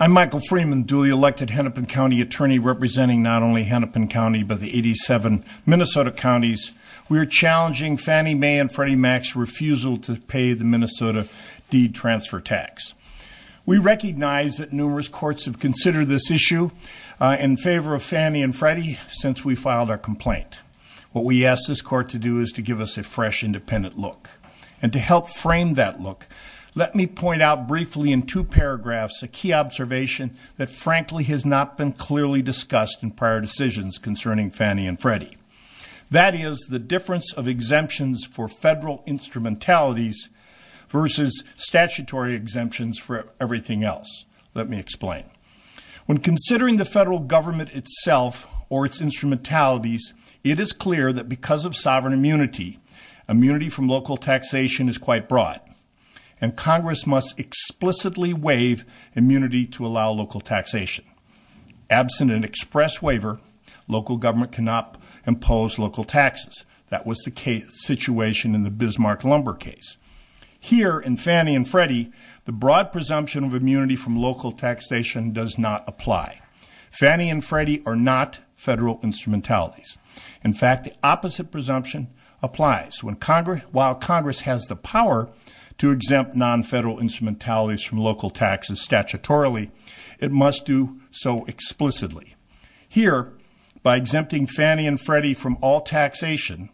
I'm Michael Freeman Dooley, elected Hennepin County Attorney representing not only Hennepin County, but the 87 Minnesota counties. We are challenging Fannie Mae and Freddie Mac's refusal to pay the Minnesota deed transfer tax. We recognize that numerous courts have considered this issue in favor of Fannie and Freddie since we filed our complaint. What we ask this court to do is to give us a fresh, independent look. And to help frame that look, let me point out briefly in two paragraphs a key observation that frankly has not been clearly discussed in prior decisions concerning Fannie and Freddie. That is the difference of exemptions for federal instrumentalities versus statutory exemptions for everything else. Let me explain. When considering the federal government itself or its instrumentalities, it is clear that because of sovereign immunity, immunity from local taxation is quite broad. And Congress must explicitly waive immunity to allow local taxation. Absent an express waiver, local government cannot impose local taxes. That was the situation in the Bismarck Lumber case. Here in Fannie and Freddie, the broad presumption of immunity from local taxation does not apply. Fannie and Freddie are not federal instrumentalities. In fact, the opposite presumption applies. While Congress has the power to exempt non-federal instrumentalities from local taxes statutorily, it must do so explicitly. Here, by exempting Fannie and Freddie from all taxation,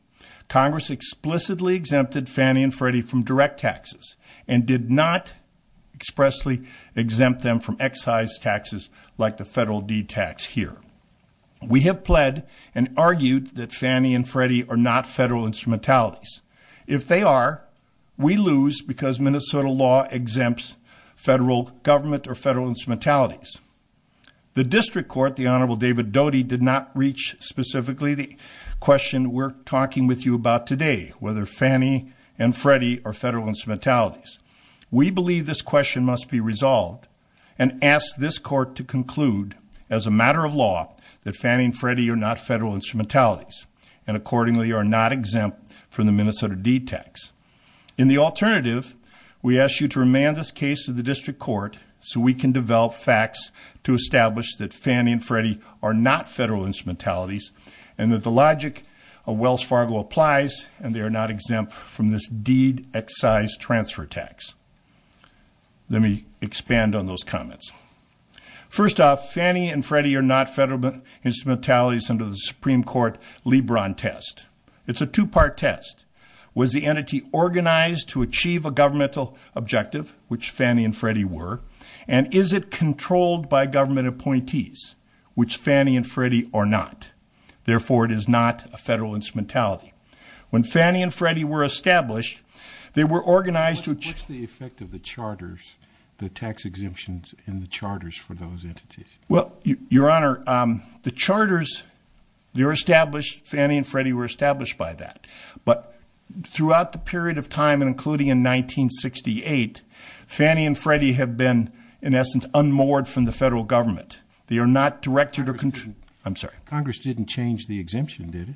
Congress explicitly exempted Fannie and Freddie from direct taxes and did not expressly exempt them from excise taxes like the federal deed tax here. We have pled and argued that Fannie and Freddie are not federal instrumentalities. If they are, we lose because Minnesota law exempts federal government or federal instrumentalities. The district court, the Honorable David Doty, did not reach specifically the question we're talking with you about today, whether Fannie and Freddie are federal instrumentalities. We believe this question must be resolved and ask this court to conclude as a matter of law that Fannie and Freddie are not federal instrumentalities and accordingly are not exempt from the Minnesota deed tax. In the alternative, we ask you to remand this case to the district court so we can develop facts to establish that Fannie and Freddie are not federal instrumentalities and that the logic of Wells Fargo applies and they are not exempt from this deed excise transfer tax. Let me expand on those comments. First off, Fannie and Freddie are not federal instrumentalities under the Supreme Court LeBron test. It's a two-part test. Was the entity organized to achieve a governmental objective, which Fannie and Freddie were, and is it controlled by government appointees, which Fannie and Freddie are not? Therefore, it is not a federal instrumentality. When Fannie and Freddie were established, they were organized to achieve. What's the effect of the charters, the tax exemptions in the charters for those entities? Well, Your Honor, the charters, they're established. Fannie and Freddie were established by that. But throughout the period of time, including in 1968, Fannie and Freddie have been, in essence, unmoored from the federal government. They are not directed or controlled. I'm sorry. Congress didn't change the exemption, did it?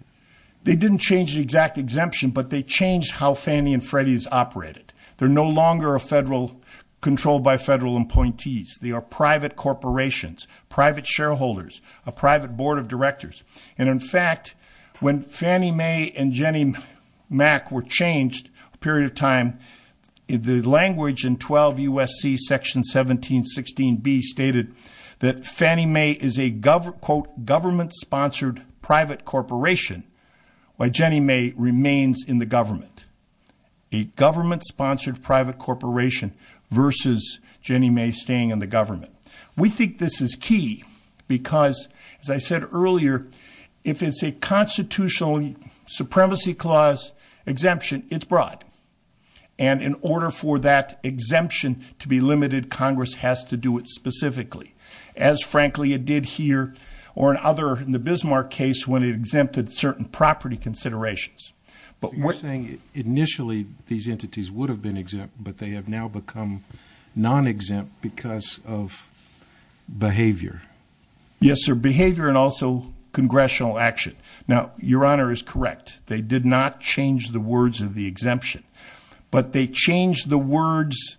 They didn't change the exact exemption, but they changed how Fannie and Freddie is operated. They're no longer controlled by federal appointees. They are private corporations, private shareholders, a private board of directors. And, in fact, when Fannie Mae and Jenny Mac were changed, a period of time, the language in 12 U.S.C. section 1716B stated that Fannie Mae is a quote, government-sponsored private corporation, while Jenny Mae remains in the government. A government-sponsored private corporation versus Jenny Mae staying in the government. We think this is key because, as I said earlier, if it's a constitutional supremacy clause exemption, it's broad. And in order for that exemption to be limited, Congress has to do it specifically, as, frankly, it did here or in other, in the Bismarck case, when it exempted certain property considerations. You're saying initially these entities would have been exempt, but they have now become non-exempt because of behavior. Yes, sir, behavior and also congressional action. Now, Your Honor is correct. They did not change the words of the exemption, but they changed the words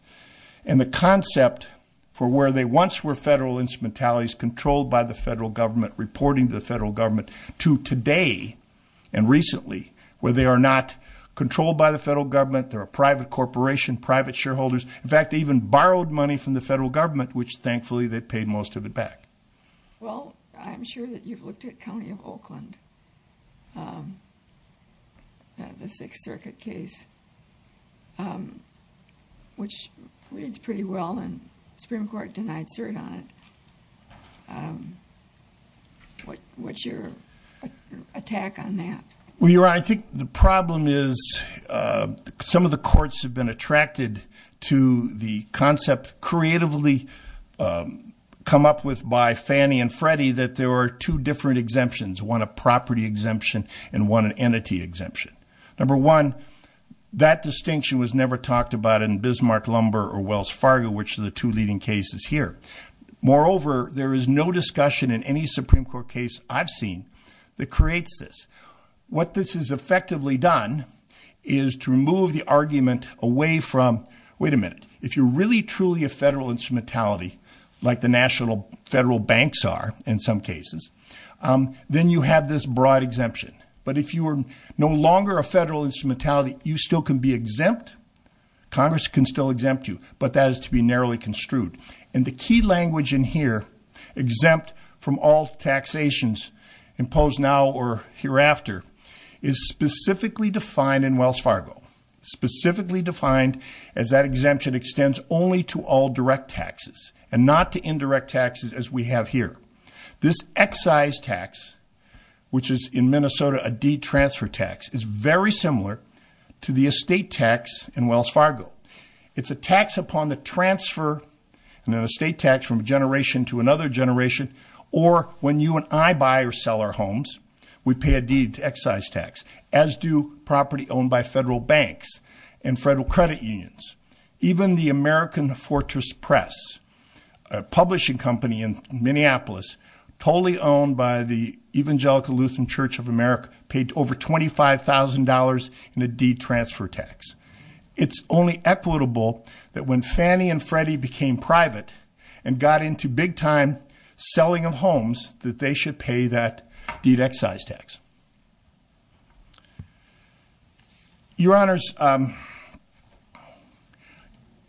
and the concept for where they once were federal instrumentalities controlled by the federal government reporting to the federal government to today and recently where they are not controlled by the federal government. They're a private corporation, private shareholders. In fact, they even borrowed money from the federal government, which thankfully they paid most of it back. Well, I'm sure that you've looked at County of Oakland, the Sixth Circuit case, which reads pretty well and the Supreme Court denied cert on it. What's your attack on that? Well, Your Honor, I think the problem is some of the courts have been attracted to the concept creatively come up with by Fannie and Freddie that there are two different exemptions, one a property exemption and one an entity exemption. Number one, that distinction was never talked about in Bismarck, Lumber, or Wells Fargo, which are the two leading cases here. Moreover, there is no discussion in any Supreme Court case I've seen that creates this. What this has effectively done is to remove the argument away from, wait a minute, if you're really truly a federal instrumentality like the national federal banks are in some cases, then you have this broad exemption. But if you are no longer a federal instrumentality, you still can be exempt. Congress can still exempt you, but that is to be narrowly construed. And the key language in here, exempt from all taxations imposed now or hereafter, is specifically defined in Wells Fargo, specifically defined as that exemption extends only to all direct taxes and not to indirect taxes as we have here. This excise tax, which is in Minnesota a detransfer tax, is very similar to the estate tax in Wells Fargo. It's a tax upon the transfer, an estate tax from a generation to another generation, or when you and I buy or sell our homes, we pay a deed excise tax, as do property owned by federal banks and federal credit unions. Even the American Fortress Press, a publishing company in Minneapolis, totally owned by the Evangelical Lutheran Church of America, paid over $25,000 in a detransfer tax. It's only equitable that when Fannie and Freddie became private and got into big-time selling of homes, that they should pay that deed excise tax. Your Honors,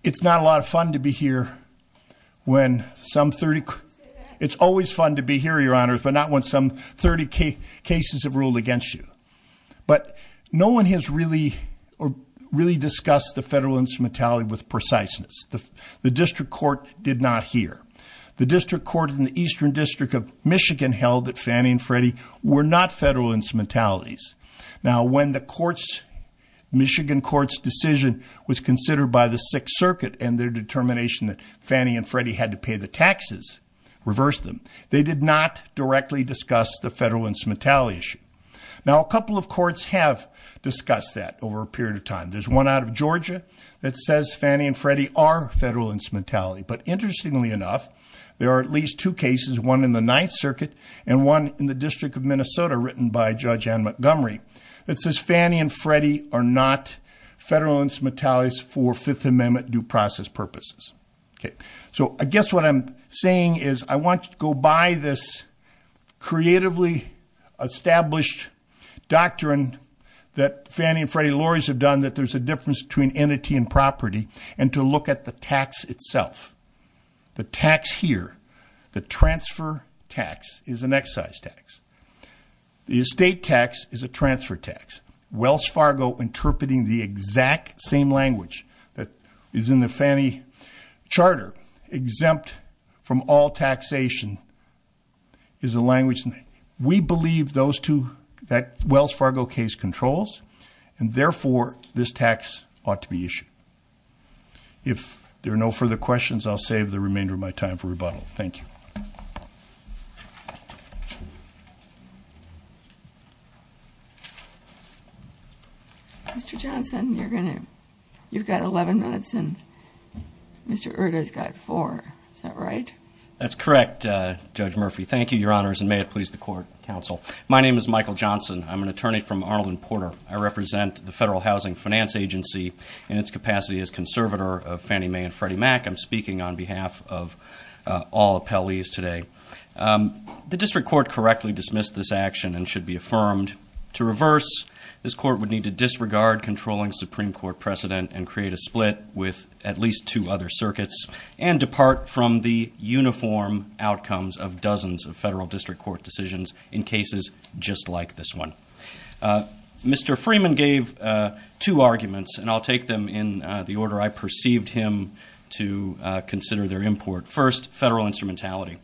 it's not a lot of fun to be here when some 30- It's always fun to be here, Your Honors, but not when some 30 cases have ruled against you. But no one has really discussed the federal instrumentality with preciseness. The district court did not hear. The district court in the Eastern District of Michigan held that Fannie and Freddie were not federal instrumentalities. Now, when the Michigan court's decision was considered by the Sixth Circuit and their determination that Fannie and Freddie had to pay the taxes reversed them, they did not directly discuss the federal instrumentality issue. Now, a couple of courts have discussed that over a period of time. There's one out of Georgia that says Fannie and Freddie are federal instrumentality. But interestingly enough, there are at least two cases, one in the Ninth Circuit and one in the District of Minnesota, written by Judge Ann Montgomery, that says Fannie and Freddie are not federal instrumentalities for Fifth Amendment due process purposes. So I guess what I'm saying is I want you to go by this creatively established doctrine that Fannie and Freddie Lawyers have done that there's a difference between entity and property and to look at the tax itself. The tax here, the transfer tax, is an excise tax. The estate tax is a transfer tax. Wells Fargo interpreting the exact same language that is in the Fannie charter, exempt from all taxation, is a language we believe those two, that Wells Fargo case, controls, and therefore this tax ought to be issued. If there are no further questions, I'll save the remainder of my time for rebuttal. Thank you. Mr. Johnson, you've got 11 minutes and Mr. Erda's got four. Is that right? That's correct, Judge Murphy. Thank you, Your Honors, and may it please the court and counsel. My name is Michael Johnson. I'm an attorney from Arnold and Porter. I represent the Federal Housing Finance Agency in its capacity as conservator of Fannie Mae and Freddie Mac. I'm speaking on behalf of all appellees today. The district court correctly dismissed this action and should be affirmed. To reverse, this court would need to disregard controlling Supreme Court precedent and create a split with at least two other circuits and depart from the uniform outcomes of dozens of federal district court decisions in cases just like this one. Mr. Freeman gave two arguments, and I'll take them in the order I perceived him to consider their import. First, federal instrumentality.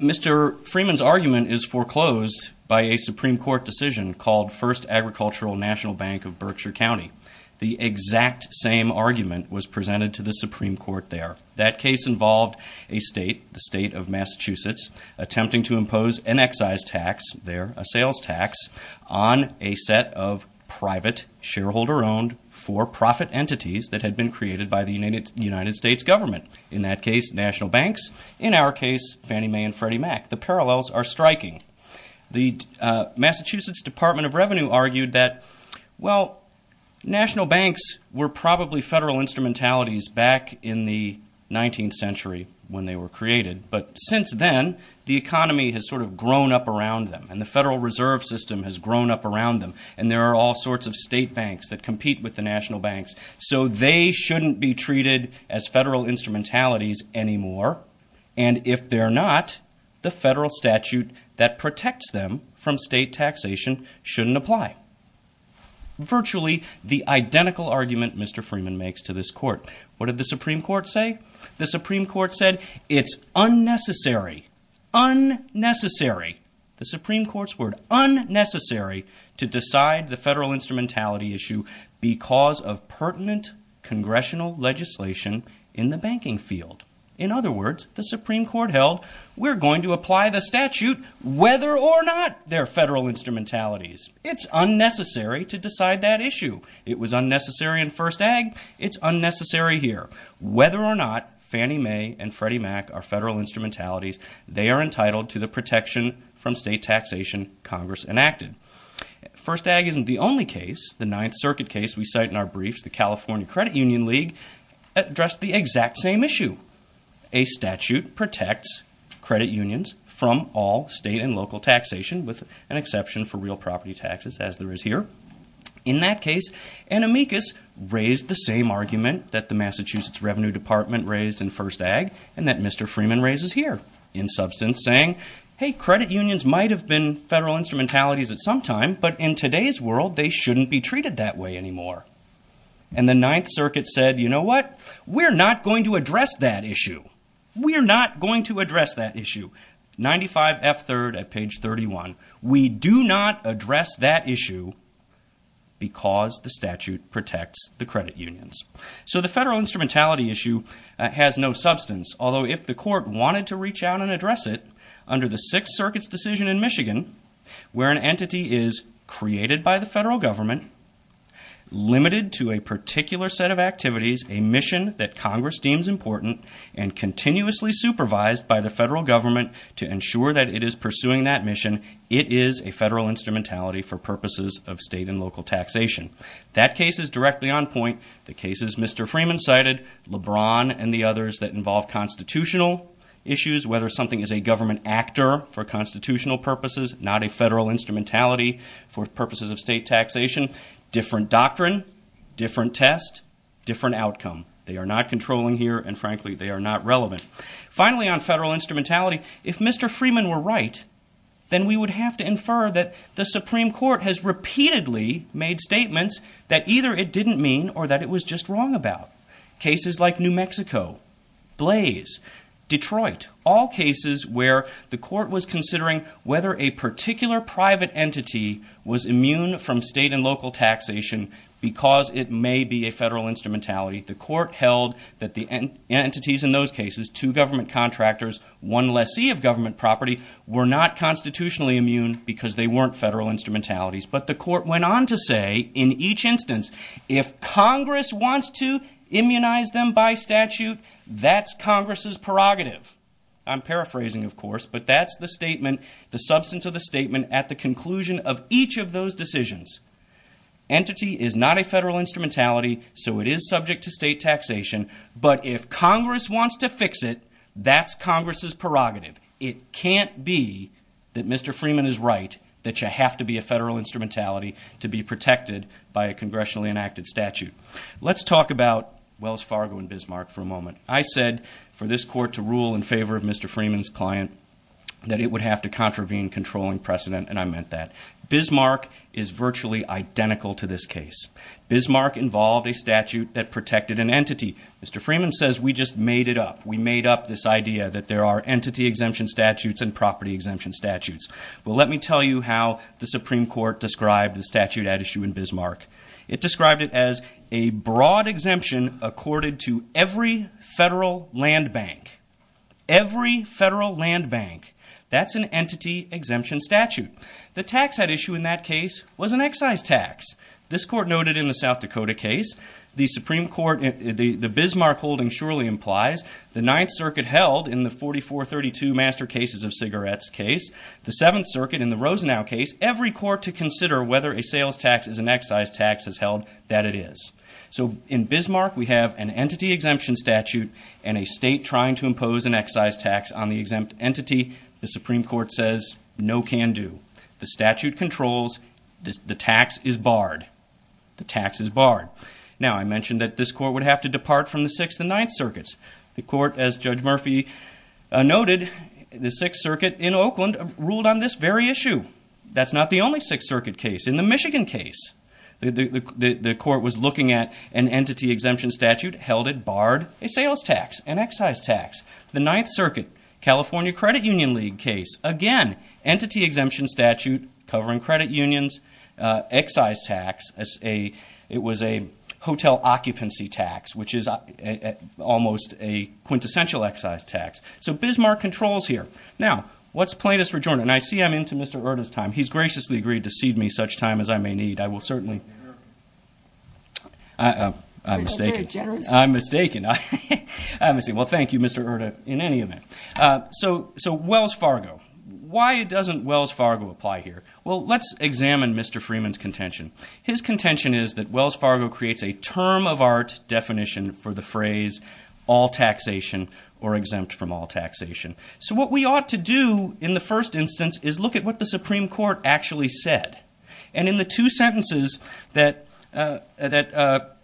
Mr. Freeman's argument is foreclosed by a Supreme Court decision called First Agricultural National Bank of Berkshire County. The exact same argument was presented to the Supreme Court there. That case involved a state, the state of Massachusetts, attempting to impose an excise tax there, a sales tax, on a set of private, shareholder-owned, for-profit entities that had been created by the United States government. In that case, national banks, in our case, Fannie Mae and Freddie Mac. The parallels are striking. The Massachusetts Department of Revenue argued that, well, national banks were probably federal instrumentalities back in the 19th century when they were created, but since then, the economy has sort of grown up around them, and the Federal Reserve System has grown up around them, and there are all sorts of state banks that compete with the national banks, so they shouldn't be treated as federal instrumentalities anymore. And if they're not, the federal statute that protects them from state taxation shouldn't apply. Virtually the identical argument Mr. Freeman makes to this court. What did the Supreme Court say? The Supreme Court said, it's unnecessary. Unnecessary. The Supreme Court's word. Unnecessary to decide the federal instrumentality issue because of pertinent congressional legislation in the banking field. In other words, the Supreme Court held, we're going to apply the statute whether or not they're federal instrumentalities. It's unnecessary to decide that issue. It was unnecessary in First Ag. It's unnecessary here. Whether or not Fannie Mae and Freddie Mac are federal instrumentalities, they are entitled to the protection from state taxation Congress enacted. First Ag isn't the only case. The Ninth Circuit case we cite in our briefs, the California Credit Union League, addressed the exact same issue. A statute protects credit unions from all state and local taxation, with an exception for real property taxes, as there is here. In that case, Anamikis raised the same argument that the Massachusetts Revenue Department raised in First Ag, and that Mr. Freeman raises here, in substance, saying, hey, credit unions might have been federal instrumentalities at some time, but in today's world, they shouldn't be treated that way anymore. And the Ninth Circuit said, you know what? We're not going to address that issue. We're not going to address that issue. 95 F. 3rd at page 31. We do not address that issue because the statute protects the credit unions. So the federal instrumentality issue has no substance, although if the court wanted to reach out and address it, under the Sixth Circuit's decision in Michigan, where an entity is created by the federal government, limited to a particular set of activities, a mission that Congress deems important, and continuously supervised by the federal government to ensure that it is pursuing that mission, it is a federal instrumentality for purposes of state and local taxation. That case is directly on point. The cases Mr. Freeman cited, LeBron and the others that involve constitutional issues, whether something is a government actor for constitutional purposes, not a federal instrumentality for purposes of state taxation, different doctrine, different test, different outcome. They are not controlling here, and frankly, they are not relevant. Finally, on federal instrumentality, if Mr. Freeman were right, then we would have to infer that the Supreme Court has repeatedly made statements that either it didn't mean or that it was just wrong about. Cases like New Mexico, Blaze, Detroit, all cases where the court was considering whether a particular private entity was immune from state and local taxation because it may be a federal instrumentality. The court held that the entities in those cases, two government contractors, one lessee of government property, were not constitutionally immune because they weren't federal instrumentalities. But the court went on to say in each instance, if Congress wants to immunize them by statute, that's Congress's prerogative. I'm paraphrasing, of course, but that's the statement, the substance of the statement at the conclusion of each of those decisions. Entity is not a federal instrumentality, so it is subject to state taxation. But if Congress wants to fix it, that's Congress's prerogative. It can't be that Mr. Freeman is right that you have to be a federal instrumentality to be protected by a congressionally enacted statute. Let's talk about Wells Fargo and Bismarck for a moment. I said for this court to rule in favor of Mr. Freeman's client that it would have to contravene controlling precedent, and I meant that. Bismarck is virtually identical to this case. Bismarck involved a statute that protected an entity. Mr. Freeman says we just made it up. We made up this idea that there are entity exemption statutes and property exemption statutes. Well, let me tell you how the Supreme Court described the statute at issue in Bismarck. It described it as a broad exemption accorded to every federal land bank. Every federal land bank. That's an entity exemption statute. The tax at issue in that case was an excise tax. This court noted in the South Dakota case, the Bismarck holding surely implies the Ninth Circuit held in the 4432 Master Cases of Cigarettes case, the Seventh Circuit in the Rosenau case, every court to consider whether a sales tax is an excise tax has held that it is. So in Bismarck we have an entity exemption statute and a state trying to impose an excise tax on the exempt entity. The Supreme Court says no can do. The statute controls. The tax is barred. The tax is barred. Now I mentioned that this court would have to depart from the Sixth and Ninth Circuits. The court, as Judge Murphy noted, the Sixth Circuit in Oakland ruled on this very issue. That's not the only Sixth Circuit case. In the Michigan case, the court was looking at an entity exemption statute held it barred a sales tax, an excise tax. The Ninth Circuit, California Credit Union League case, again, entity exemption statute covering credit unions, excise tax. It was a hotel occupancy tax, which is almost a quintessential excise tax. So Bismarck controls here. Now, what's plaintiff's rejoinder? And I see I'm into Mr. Erta's time. He's graciously agreed to cede me such time as I may need. I will certainly... I'm mistaken. I'm mistaken. Well, thank you, Mr. Erta, in any event. So Wells Fargo. Why doesn't Wells Fargo apply here? Well, let's examine Mr. Freeman's contention. His contention is that Wells Fargo creates a term-of-art definition for the phrase all taxation or exempt from all taxation. So what we ought to do in the first instance is look at what the Supreme Court actually said. And in the two sentences that Mr.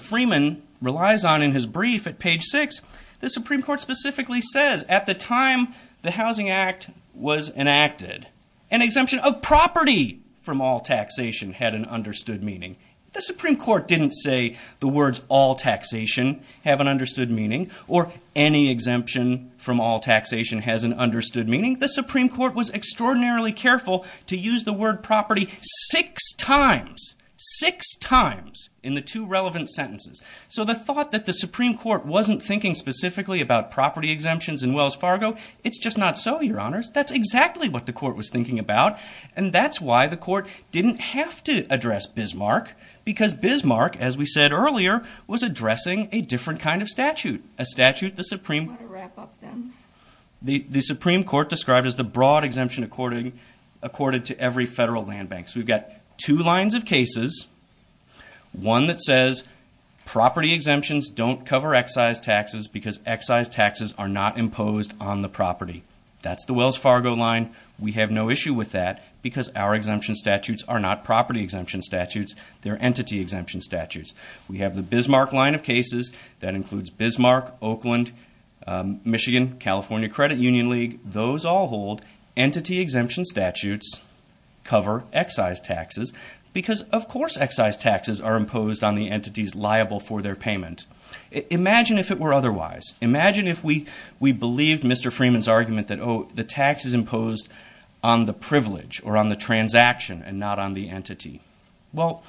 Freeman relies on in his brief at page six, the Supreme Court specifically says, at the time the Housing Act was enacted, an exemption of property from all taxation had an understood meaning. The Supreme Court didn't say the words all taxation have an understood meaning or any exemption from all taxation has an understood meaning. The Supreme Court was extraordinarily careful to use the word property six times, six times in the two relevant sentences. So the thought that the Supreme Court wasn't thinking specifically about property exemptions in Wells Fargo, it's just not so, Your Honors. That's exactly what the court was thinking about, and that's why the court didn't have to address Bismarck, because Bismarck, as we said earlier, was addressing a different kind of statute, a statute the Supreme Court described as the broad exemption according to every federal land bank. So we've got two lines of cases. One that says property exemptions don't cover excise taxes because excise taxes are not imposed on the property. That's the Wells Fargo line. We have no issue with that because our exemption statutes are not property exemption statutes. They're entity exemption statutes. We have the Bismarck line of cases. That includes Bismarck, Oakland, Michigan, California Credit Union League. Those all hold entity exemption statutes cover excise taxes because, of course, excise taxes are imposed on the entities liable for their payment. Imagine if it were otherwise. Imagine if we believed Mr. Freeman's argument that, oh, the tax is imposed on the privilege or on the transaction and not on the entity. Well,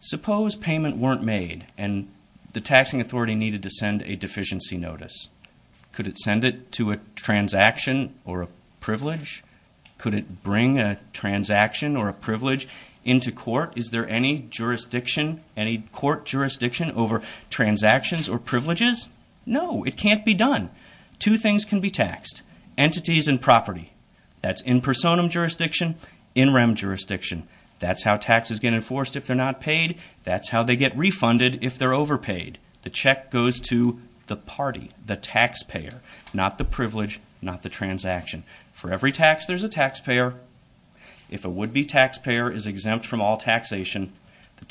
suppose payment weren't made and the taxing authority needed to send a deficiency notice. Could it send it to a transaction or a privilege? Could it bring a transaction or a privilege into court? Is there any jurisdiction, any court jurisdiction over transactions or privileges? No, it can't be done. Two things can be taxed, entities and property. That's in personam jurisdiction, in rem jurisdiction. That's how taxes get enforced if they're not paid. That's how they get refunded if they're overpaid. The check goes to the party, the taxpayer, not the privilege, not the transaction. For every tax, there's a taxpayer. If a would-be taxpayer is exempt from all taxation,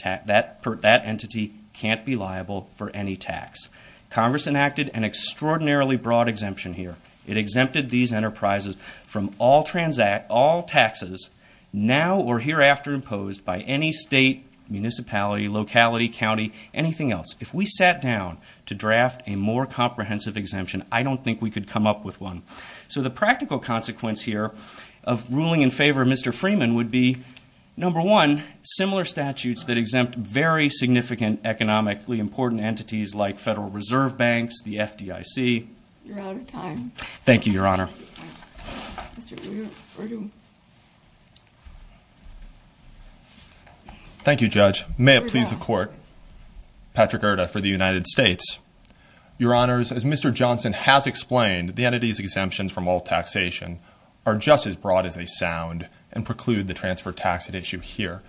that entity can't be liable for any tax. Congress enacted an extraordinarily broad exemption here. It exempted these enterprises from all taxes now or hereafter imposed by any state, municipality, locality, county, anything else. If we sat down to draft a more comprehensive exemption, I don't think we could come up with one. So the practical consequence here of ruling in favor of Mr. Freeman would be, number one, similar statutes that exempt very significant economically important entities like Federal Reserve Banks, the FDIC. You're out of time. Thank you, Your Honor. Thank you, Judge. May it please the Court. Patrick Irda for the United States. Your Honors, as Mr. Johnson has explained, the entity's exemptions from all taxation are just as broad as they sound and preclude the transfer tax at issue here.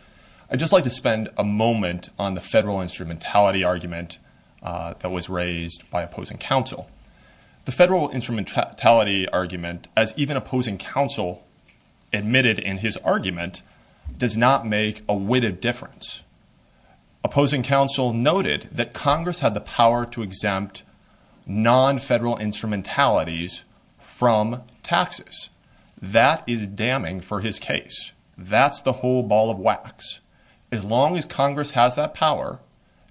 I'd just like to spend a moment on the federal instrumentality argument that was raised by opposing counsel. The federal instrumentality argument, as even opposing counsel admitted in his argument, does not make a witted difference. Opposing counsel noted that Congress had the power to exempt non-federal instrumentalities from taxes. That is damning for his case. That's the whole ball of wax. As long as Congress has that power,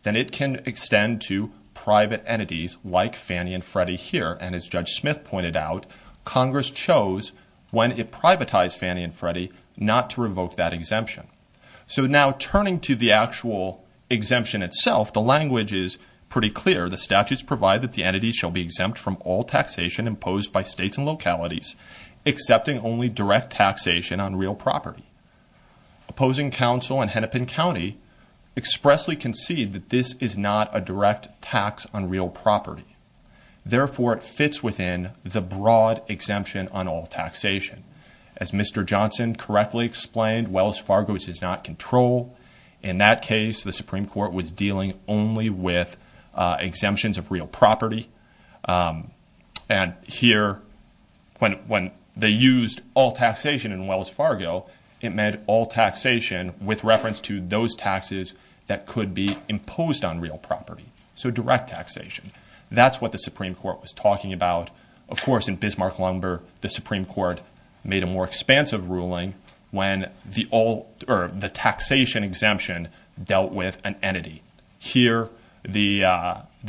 then it can extend to private entities like Fannie and Freddie here, and as Judge Smith pointed out, Congress chose when it privatized Fannie and Freddie not to revoke that exemption. So now turning to the actual exemption itself, the language is pretty clear. The statutes provide that the entity shall be exempt from all taxation imposed by states and localities, excepting only direct taxation on real property. Opposing counsel in Hennepin County expressly concede that this is not a direct tax on real property. Therefore, it fits within the broad exemption on all taxation. As Mr. Johnson correctly explained, Wells Fargo does not control. In that case, the Supreme Court was dealing only with exemptions of real property. And here, when they used all taxation in Wells Fargo, it meant all taxation with reference to those taxes that could be imposed on real property. So direct taxation. That's what the Supreme Court was talking about. Of course, in Bismarck-Lumber, the Supreme Court made a more expansive ruling when the taxation exemption dealt with an entity. Here, the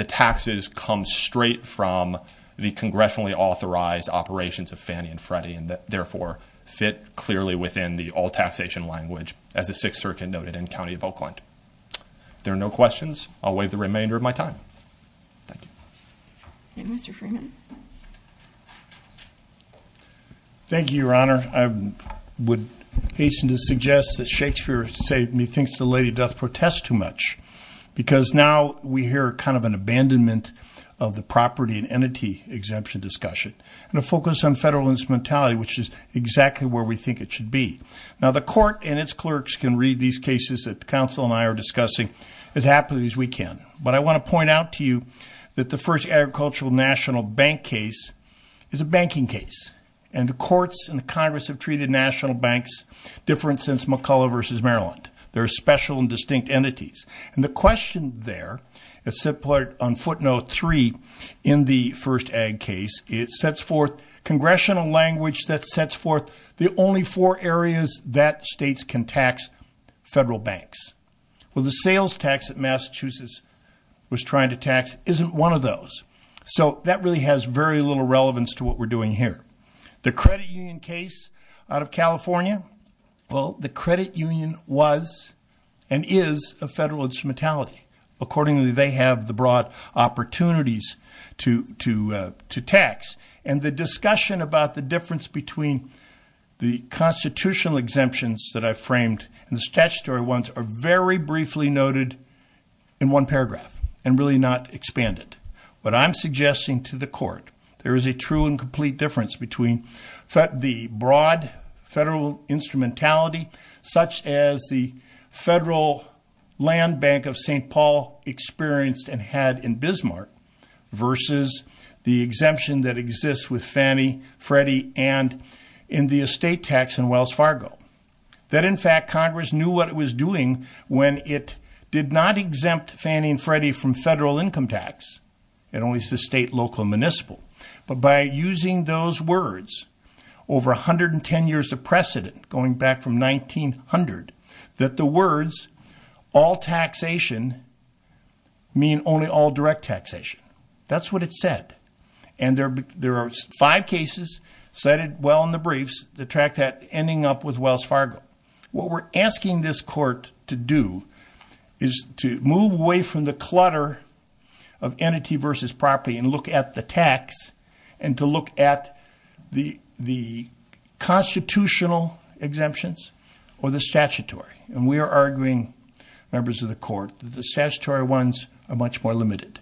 taxes come straight from the congressionally authorized operations of Fannie and Freddie, and therefore fit clearly within the all taxation language, as the Sixth Circuit noted in the County of Oakland. If there are no questions, I'll waive the remainder of my time. Thank you. Thank you, Mr. Freeman. Thank you, Your Honor. I would hasten to suggest that Shakespeare, say, me thinks the lady doth protest too much, because now we hear kind of an abandonment of the property and entity exemption discussion, and a focus on federal instrumentality, which is exactly where we think it should be. Now, the court and its clerks can read these cases that counsel and I are discussing as happily as we can. But I want to point out to you that the first Agricultural National Bank case is a banking case, and the courts and the Congress have treated national banks different since McCulloch v. Maryland. They're special and distinct entities. And the question there, as set forth on footnote three in the first ag case, it sets forth congressional language that sets forth the only four areas that states can tax federal banks. Well, the sales tax that Massachusetts was trying to tax isn't one of those. So that really has very little relevance to what we're doing here. The credit union case out of California, well, the credit union was and is a federal instrumentality. Accordingly, they have the broad opportunities to tax. And the discussion about the difference between the constitutional exemptions that I framed and the statutory ones are very briefly noted in one paragraph and really not expanded. But I'm suggesting to the court there is a true and complete difference between the broad federal instrumentality, such as the Federal Land Bank of St. Paul experienced and had in Bismarck, versus the exemption that exists with Fannie, Freddie, and in the estate tax in Wells Fargo. That, in fact, Congress knew what it was doing when it did not exempt Fannie and Freddie from federal income tax. It only says state, local, and municipal. But by using those words, over 110 years of precedent, going back from 1900, that the words all taxation mean only all direct taxation. That's what it said. And there are five cases cited well in the briefs that track that ending up with Wells Fargo. What we're asking this court to do is to move away from the clutter of entity versus property and look at the tax and to look at the constitutional exemptions or the statutory. And we are arguing, members of the court, that the statutory ones are much more limited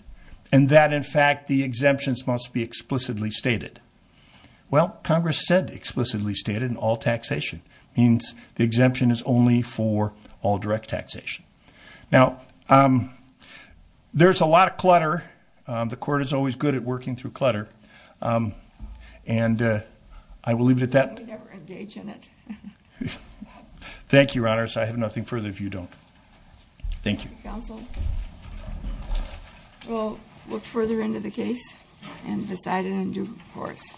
and that, in fact, the exemptions must be explicitly stated. Well, Congress said explicitly stated all taxation means the exemption is only for all direct taxation. Now, there's a lot of clutter. The court is always good at working through clutter. And I will leave it at that. We never engage in it. Thank you, Your Honors. I have nothing further if you don't. Thank you. We'll look further into the case and decide it in due course.